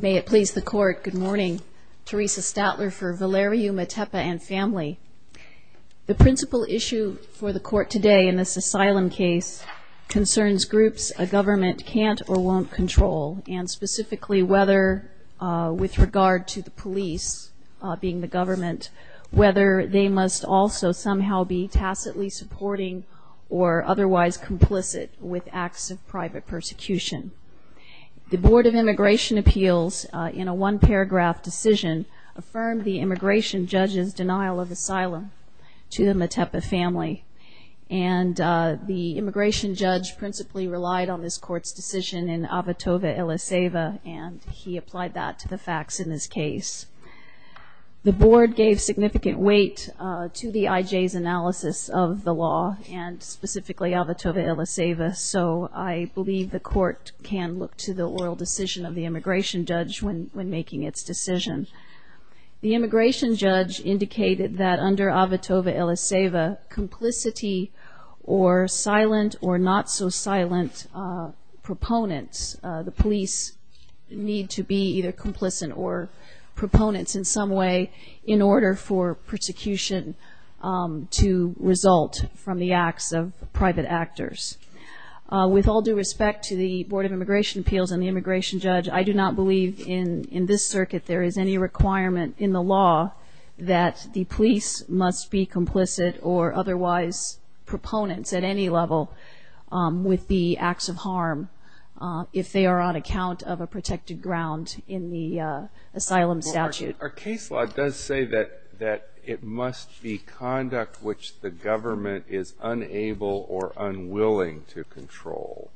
May it please the Court, good morning. Teresa Statler for Valerium Atepa and family. The principal issue for the Court today in this asylum case concerns groups a government can't or won't control, and specifically whether, with regard to the police being the government, whether they must also somehow be tacitly supporting or otherwise complicit with acts of private persecution. The Board of Immigration Appeals, in a one-paragraph decision, affirmed the immigration judge's denial of asylum to the Metepa family. And the immigration judge principally relied on this Court's decision in Avotova-Eliseva, and he applied that to the facts in this case. The Board gave significant weight to the IJ's analysis of the law, and specifically Avotova-Eliseva, so I believe the Court can look to the oral decision of the immigration judge when making its decision. The immigration judge indicated that under Avotova-Eliseva, complicity or silent or not so silent proponents, the police need to be either complicit or proponents in some way in order for persecution to result from the acts of private actors. With all due respect to the Board of Immigration Appeals and the immigration judge, I do not believe in this circuit there is any requirement in the law that the police must be complicit or otherwise proponents at any level with the acts of harm, if they are on account of a protected ground in the asylum statute. Our case law does say that it must be conduct which the government is unable or unwilling to control.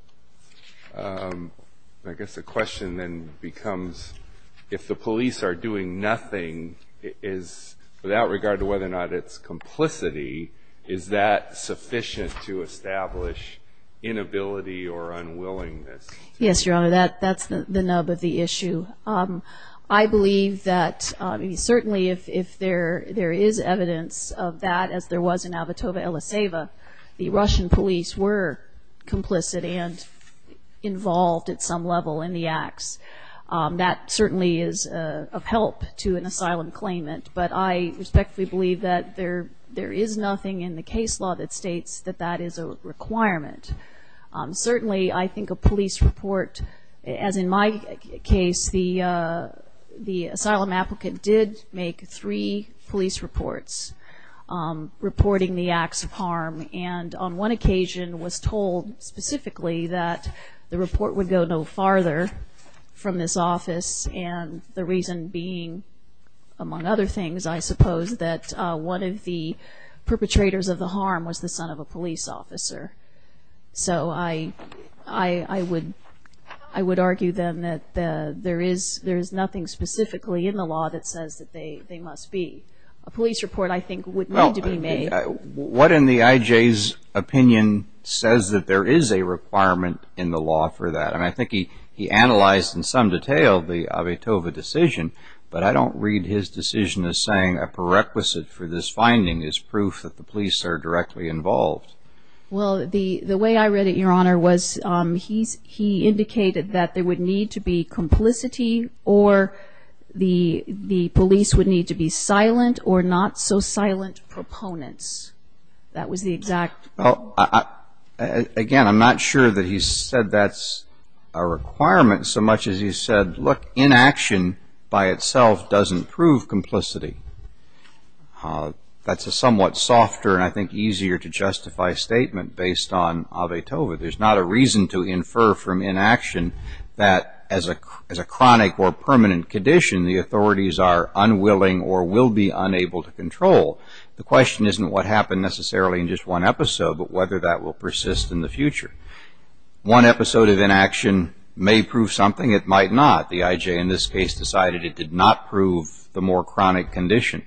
I guess the question then becomes, if the police are doing nothing, without regard to whether or not it's complicity, is that sufficient to establish inability or unwillingness? Yes, Your Honor, that's the nub of the issue. I believe that certainly if there is evidence of that, as there was in Avotova-Eliseva, the Russian police were complicit and involved at some level in the acts. That certainly is of help to an asylum claimant, but I respectfully believe that there is nothing in the case law that states that that is a requirement. Certainly, I think a police report, as in my case, the asylum applicant did make three police reports reporting the acts of harm and on one occasion was told specifically that the report would go no farther from this office and the reason being, among other things, I suppose, is that one of the perpetrators of the harm was the son of a police officer. So I would argue then that there is nothing specifically in the law that says that they must be. A police report, I think, would need to be made. What in the IJ's opinion says that there is a requirement in the law for that? I think he analyzed in some detail the Avotova decision, but I don't read his decision as saying a prerequisite for this finding is proof that the police are directly involved. Well, the way I read it, Your Honor, was he indicated that there would need to be complicity or the police would need to be silent or not so silent proponents. That was the exact. Again, I'm not sure that he said that's a requirement so much as he said, look, inaction by itself doesn't prove complicity. That's a somewhat softer and I think easier to justify statement based on Avotova. There's not a reason to infer from inaction that as a chronic or permanent condition, the authorities are unwilling or will be unable to control. The question isn't what happened necessarily in just one episode, but whether that will persist in the future. One episode of inaction may prove something, it might not. The IJ in this case decided it did not prove the more chronic condition.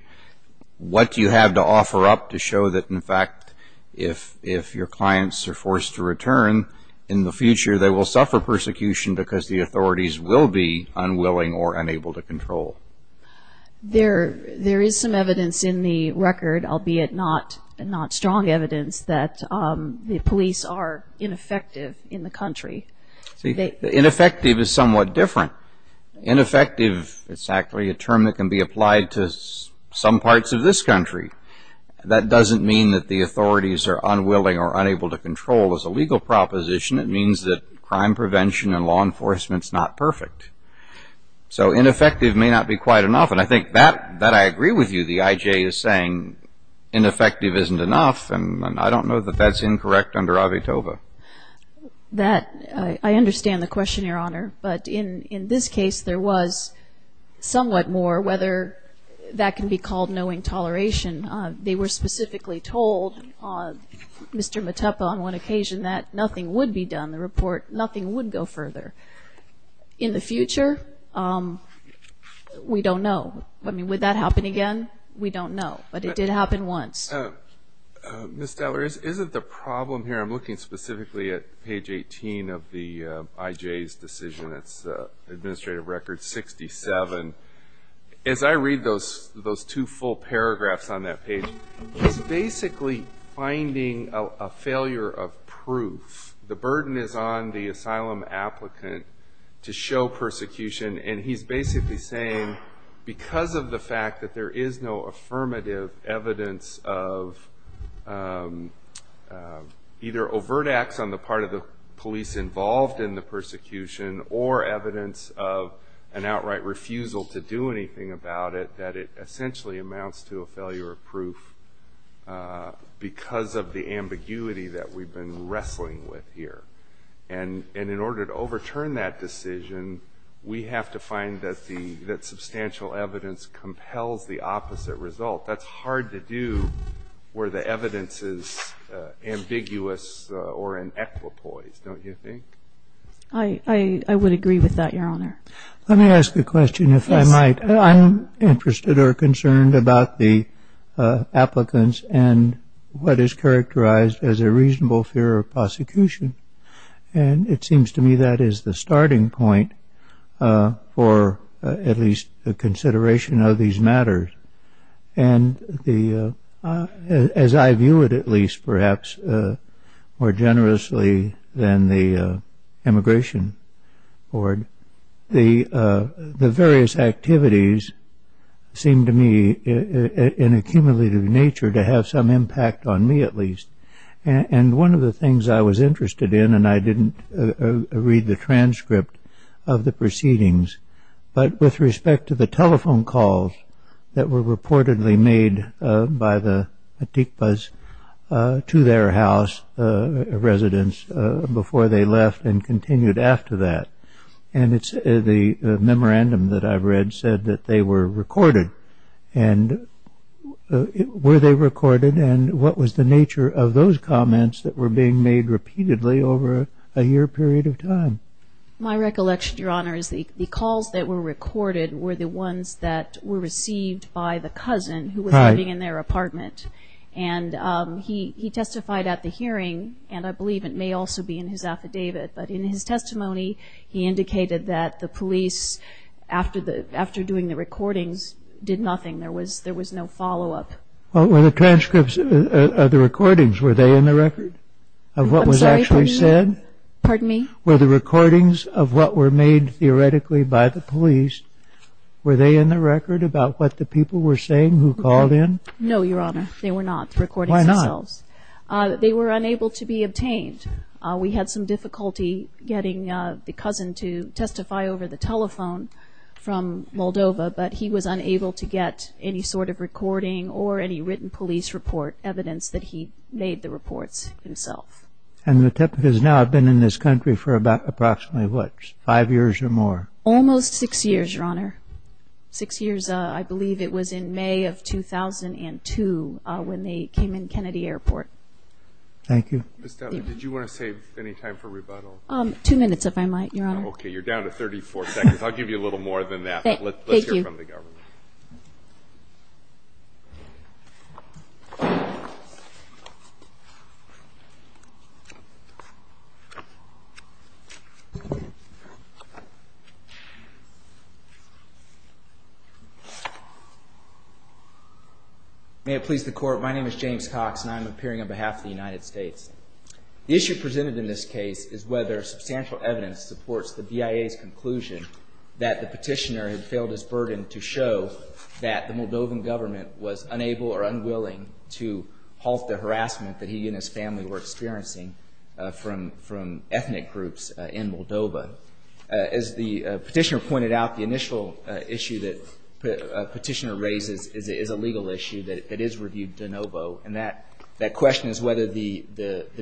What do you have to offer up to show that in fact if your clients are forced to return, in the future they will suffer persecution because the authorities will be unwilling or unable to control? There is some evidence in the record, albeit not strong evidence, that the police are ineffective in the country. Ineffective is somewhat different. Ineffective is actually a term that can be applied to some parts of this country. That doesn't mean that the authorities are unwilling or unable to control as a legal proposition. It means that crime prevention and law enforcement is not perfect. So ineffective may not be quite enough and I think that I agree with you. The IJ is saying ineffective isn't enough and I don't know that that's incorrect under Avitova. That, I understand the question, Your Honor, but in this case there was somewhat more whether that can be called knowing toleration. They were specifically told, Mr. Matepa on one occasion, that nothing would be done. The report, nothing would go further. In the future, we don't know. Would that happen again? We don't know, but it did happen once. Ms. Teller, is it the problem here? I'm looking specifically at page 18 of the IJ's decision, its administrative record 67. As I read those two full paragraphs on that page, he's basically finding a failure of proof. The burden is on the asylum applicant to show persecution, and he's basically saying because of the fact that there is no affirmative evidence of either overt acts on the part of the police involved in the persecution or evidence of an outright refusal to do anything about it, that it essentially amounts to a failure of proof because of the ambiguity that we've been wrestling with here. In order to overturn that decision, we have to find that substantial evidence compels the opposite result. That's hard to do where the evidence is ambiguous or in equipoise, don't you think? I would agree with that, Your Honor. Let me ask a question, if I might. I'm interested or concerned about the applicants and what is characterized as a reasonable fear of prosecution. And it seems to me that is the starting point for at least a consideration of these matters. And as I view it, at least perhaps more generously than the Immigration Board, the various activities seem to me in a cumulative nature to have some impact on me at least. And one of the things I was interested in, and I didn't read the transcript of the proceedings, but with respect to the telephone calls that were reportedly made by the Matikpas to their house residents before they left and continued after that. And the memorandum that I read said that they were recorded. And were they recorded? And what was the nature of those comments that were being made repeatedly over a year period of time? My recollection, Your Honor, is the calls that were recorded were the ones that were received by the cousin who was living in their apartment. And he testified at the hearing. And I believe it may also be in his affidavit. But in his testimony, he indicated that the police, after doing the recordings, did nothing. There was no follow-up. Well, were the transcripts of the recordings, were they in the record of what was actually said? Pardon me? Were the recordings of what were made theoretically by the police, were they in the record about what the people were saying who called in? No, Your Honor, they were not recordings themselves. Why not? They were unable to be obtained. We had some difficulty getting the cousin to testify over the telephone from Moldova, but he was unable to get any sort of recording or any written police report evidence that he made the reports himself. And the Matikpas now have been in this country for about approximately what, five years or more? Almost six years, Your Honor. Six years, I believe it was in May of 2002 when they came in Kennedy Airport. Thank you. Ms. Dowling, did you want to save any time for rebuttal? Two minutes, if I might, Your Honor. Okay. You're down to 34 seconds. I'll give you a little more than that. Thank you. Let's hear from the government. May it please the Court. My name is James Cox, and I'm appearing on behalf of the United States. The issue presented in this case is whether substantial evidence supports the BIA's conclusion that the petitioner had failed his burden to show that the Moldovan government was unable or unwilling to halt the harassment that he and his family were experiencing from ethnic groups in Moldova. As the petitioner pointed out, the initial issue that the petitioner raises is a legal issue that is reviewed de novo, and that question is whether the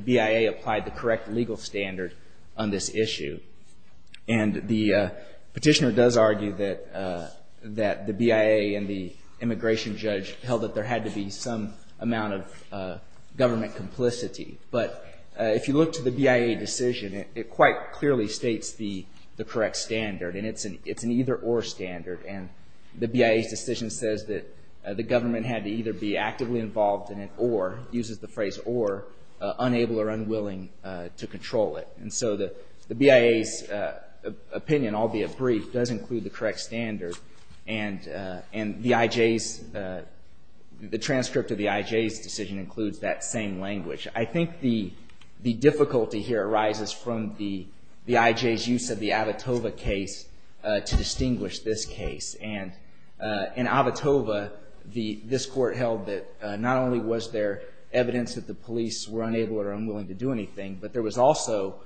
BIA applied the correct legal standard on this issue. And the petitioner does argue that the BIA and the immigration judge held that there had to be some amount of government complicity. But if you look to the BIA decision, it quite clearly states the correct standard, and it's an either-or standard. And the BIA's decision says that the government had to either be actively involved in it or, uses the phrase or, unable or unwilling to control it. And so the BIA's opinion, albeit brief, does include the correct standard, and the IJ's, the transcript of the IJ's decision includes that same language. I think the difficulty here arises from the IJ's use of the Avitova case to distinguish this case. And in Avitova, this court held that not only was there evidence that the police were unable or unwilling to do anything, but there was also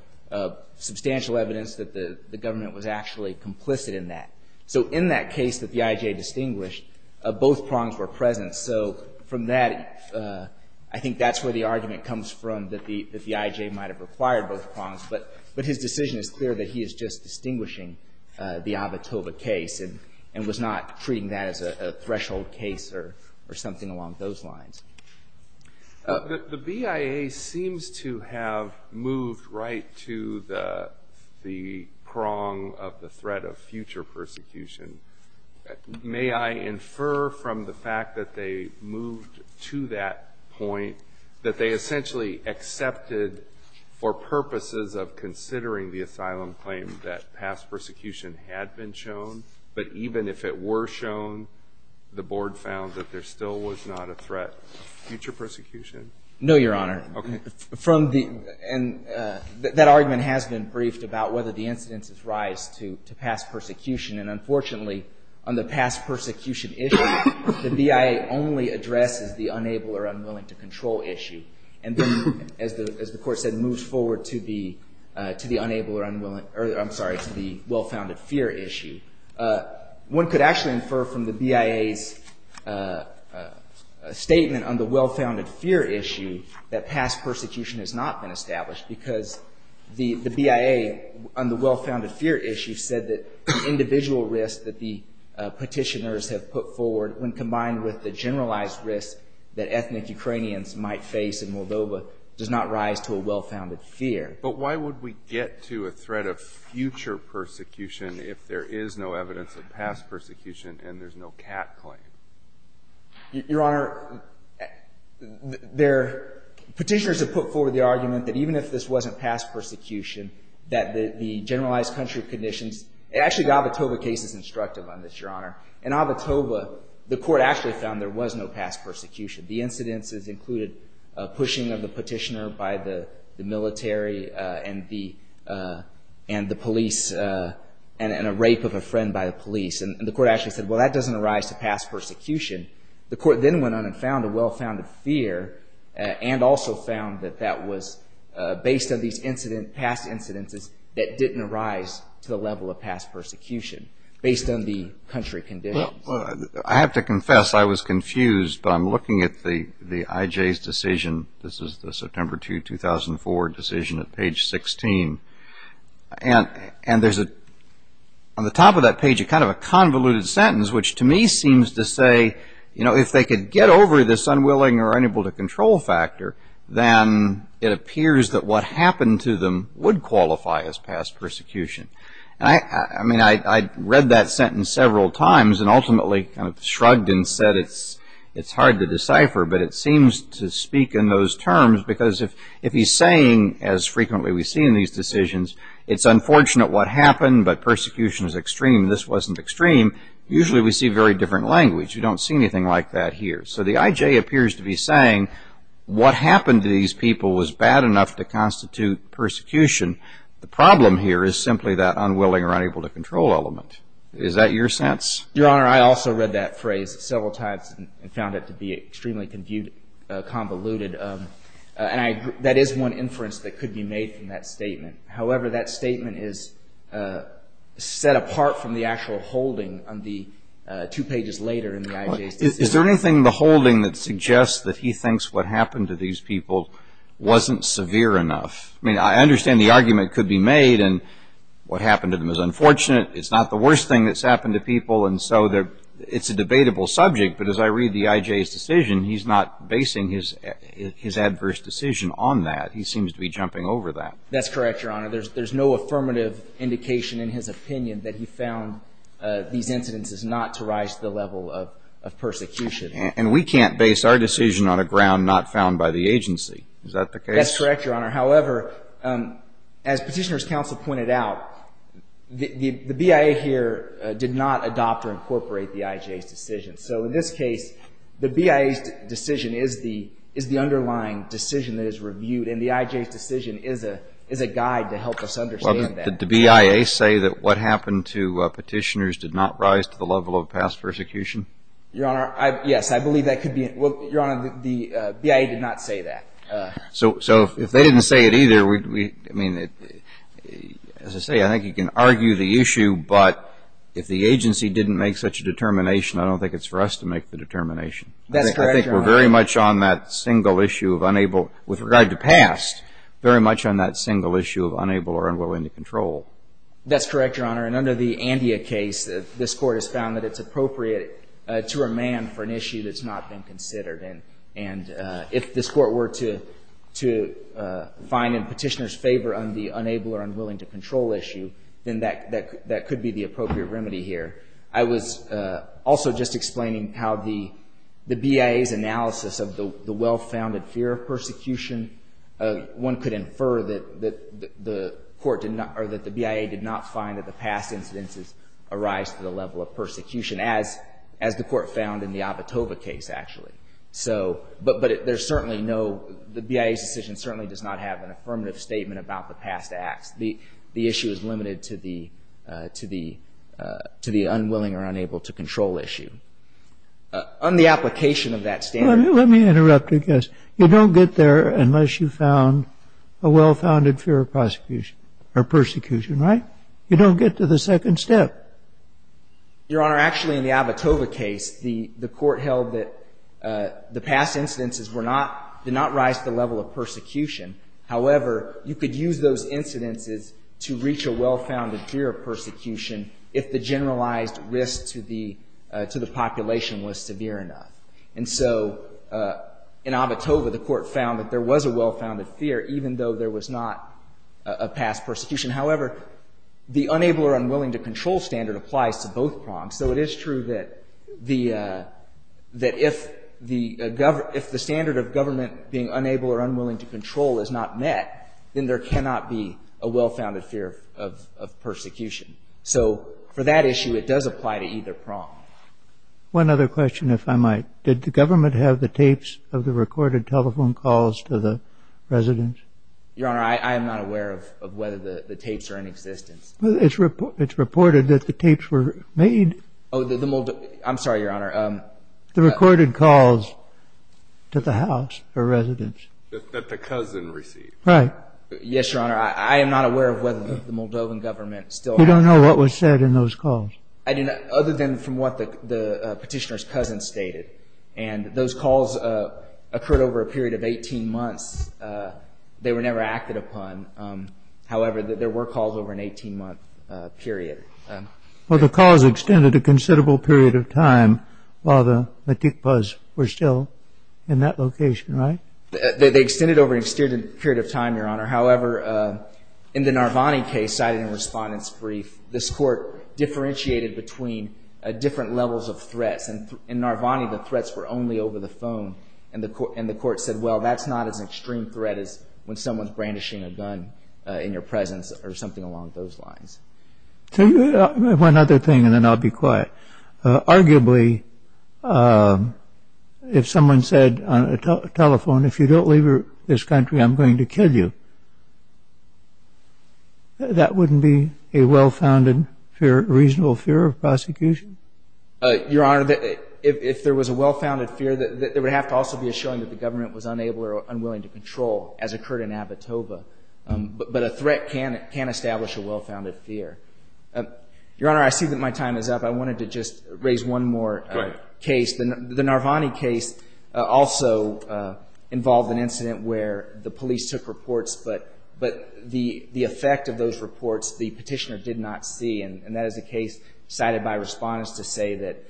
substantial evidence that the government was actually complicit in that. So in that case that the IJ distinguished, both prongs were present. So from that, I think that's where the argument comes from, that the IJ might have required both prongs. But his decision is clear that he is just distinguishing the Avitova case and was not treating that as a threshold case or something along those lines. The BIA seems to have moved right to the prong of the threat of future persecution. May I infer from the fact that they moved to that point that they essentially accepted for purposes of considering the asylum claim that past persecution had been shown, but even if it were shown, the Board found that there still was not a threat of future persecution? No, Your Honor. Okay. From the — and that argument has been briefed about whether the incidences rise to past persecution. And unfortunately, on the past persecution issue, the BIA only addresses the unable or unwilling to control issue. And then, as the Court said, moves forward to the unable or unwilling — I'm sorry, to the well-founded fear issue. One could actually infer from the BIA's statement on the well-founded fear issue that past individual risk that the Petitioners have put forward, when combined with the generalized risk that ethnic Ukrainians might face in Moldova, does not rise to a well-founded fear. But why would we get to a threat of future persecution if there is no evidence of past persecution and there's no cat claim? Your Honor, there — Petitioners have put forward the argument that even if this wasn't past persecution, that the generalized country of conditions — actually, the Avotova case is instructive on this, Your Honor. In Avotova, the Court actually found there was no past persecution. The incidences included pushing of the Petitioner by the military and the — and the police and a rape of a friend by the police. And the Court actually said, well, that doesn't arise to past persecution. The Court then went on and found a well-founded fear and also found that that was based on these incident — past incidences that didn't arise to the level of past persecution, based on the country conditions. Well, I have to confess, I was confused. I'm looking at the IJ's decision. This is the September 2, 2004 decision at page 16. And there's a — on the top of that page, kind of a convoluted sentence, which to me seems to say, you know, if they could get over this unwilling or unable to control factor, then it appears that what happened to them would qualify as past persecution. And I — I mean, I read that sentence several times and ultimately kind of shrugged and said it's hard to decipher, but it seems to speak in those terms because if he's saying, as frequently we see in these decisions, it's unfortunate what happened, but persecution is extreme, this wasn't extreme, usually we see very different language. You don't see anything like that here. So the IJ appears to be saying what happened to these people was bad enough to constitute persecution. The problem here is simply that unwilling or unable to control element. Is that your sense? Your Honor, I also read that phrase several times and found it to be extremely convoluted. And I — that is one inference that could be made from that statement. However, that statement is set apart from the actual holding on the — two pages later in the IJ's decision. Is there anything in the holding that suggests that he thinks what happened to these people wasn't severe enough? I mean, I understand the argument could be made and what happened to them is unfortunate, it's not the worst thing that's happened to people, and so they're — it's a debatable subject, but as I read the IJ's decision, he's not basing his — his adverse decision on that. He seems to be jumping over that. That's correct, Your Honor. There's — there's no affirmative indication in his opinion that he found these incidents is not to rise to the level of persecution. And we can't base our decision on a ground not found by the agency. Is that the case? That's correct, Your Honor. However, as Petitioner's Counsel pointed out, the BIA here did not adopt or incorporate the IJ's decision. So in this case, the BIA's decision is the — is the underlying decision that is reviewed, and the IJ's decision is a — is a guide to help us understand that. Did the BIA say that what happened to Petitioner's did not rise to the level of past persecution? Your Honor, I — yes, I believe that could be — well, Your Honor, the BIA did not say that. So — so if they didn't say it either, we — I mean, as I say, I think you can argue the issue, but if the agency didn't make such a determination, I don't think it's for us to make the determination. That's correct, Your Honor. I think we're very much on that single issue of unable — with regard to past, very much on that single issue of unable or unwilling to control. That's correct, Your Honor. And under the Andea case, this Court has found that it's appropriate to remand for an issue that's not been considered. And if this Court were to — to find in Petitioner's favor on the unable or unwilling to control issue, then that — that could be the appropriate remedy here. I was also just explaining how the BIA's analysis of the well-founded fear of persecution — one could infer that the court did not — or that the BIA did not find that the past incidences arise to the level of persecution, as — as the Court found in the Avotova case, actually. So — but there's certainly no — the BIA's decision certainly does not have an affirmative statement about the past acts. The issue is limited to the — to the unwilling or unable to control issue. On the application of that standard — Let me interrupt, I guess. You don't get there unless you've found a well-founded fear of prosecution — or persecution, right? You don't get to the second step. Your Honor, actually, in the Avotova case, the — the Court held that the past incidences were not — did not rise to the level of persecution. However, you could use those incidences to reach a well-founded fear of persecution if the generalized risk to the — to the population was severe enough. And so in Avotova, the Court found that there was a well-founded fear, even though there was not a past persecution. However, the unable or unwilling to control standard applies to both prongs. So it is true that the — that if the — if the standard of government being unable or unwilling to control is not met, then there cannot be a well-founded fear of — of persecution. So for that issue, it does apply to either prong. One other question, if I might. Did the government have the tapes of the recorded telephone calls to the residents? Your Honor, I am not aware of whether the tapes are in existence. It's reported that the tapes were made — Oh, the Moldovan — I'm sorry, Your Honor. The recorded calls to the house or residents. That the cousin received. Right. Yes, Your Honor. I am not aware of whether the Moldovan government still — You don't know what was said in those calls? I do not, other than from what the petitioner's cousin stated. And those calls occurred over a period of 18 months. They were never acted upon. However, there were calls over an 18-month period. Well, the calls extended a considerable period of time while the metikpas were still in that location, right? They extended over an extended period of time, Your Honor. However, in the Narvani case cited in the respondent's brief, this court differentiated between different levels of threats. In Narvani, the threats were only over the phone. And the court said, well, that's not as extreme a threat as when someone's brandishing a gun in your presence or something along those lines. One other thing, and then I'll be quiet. Arguably, if someone said on a telephone, if you don't leave this country, I'm going to kill you, that wouldn't be a well-founded, reasonable fear of prosecution? Your Honor, if there was a well-founded fear, there would have to also be a showing that the government was unable or unwilling to control, as occurred in Abitoba. But a threat can establish a well-founded fear. Your Honor, I see that my time is up. I wanted to just raise one more case. The Narvani case also involved an incident where the police took reports, but the effect of those reports the petitioner did not see. And that is a case cited by respondents to say that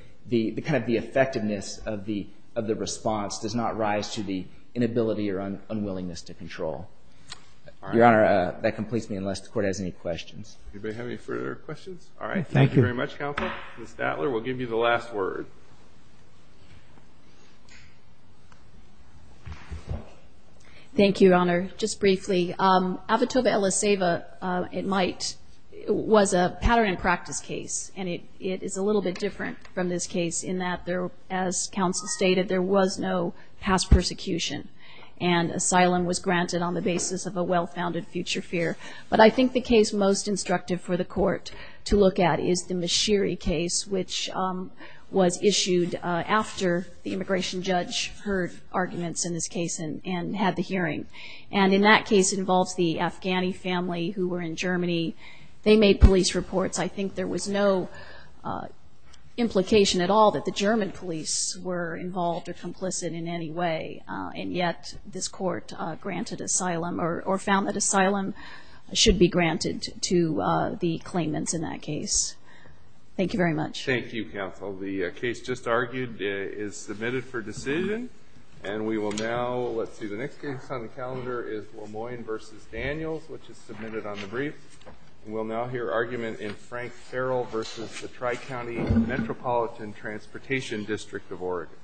kind of the effectiveness of the response does not rise to the inability or unwillingness to control. Your Honor, that completes me, unless the Court has any questions. Anybody have any further questions? All right. Thank you very much, Counsel. Ms. Datler will give you the last word. Thank you, Your Honor. Just briefly, Abitoba-Elaceva was a pattern and practice case, and it is a little bit different from this case in that, as Counsel stated, there was no past persecution, and asylum was granted on the basis of a well-founded future fear. But I think the case most instructive for the Court to look at is the Mashiri case, which was issued after the immigration judge heard arguments in this case and had the hearing. And in that case, it involves the Afghani family who were in Germany. They made police reports. I think there was no implication at all that the German police were involved or complicit in any way, and yet this Court granted asylum or found that asylum should be granted to the claimants in that case. Thank you very much. Thank you, Counsel. The case just argued is submitted for decision, and we will now let's see. The next case on the calendar is Lemoyne v. Daniels, which is submitted on the brief. We'll now hear argument in Frank Farrell v. the Tri-County Metropolitan Transportation District of Oregon.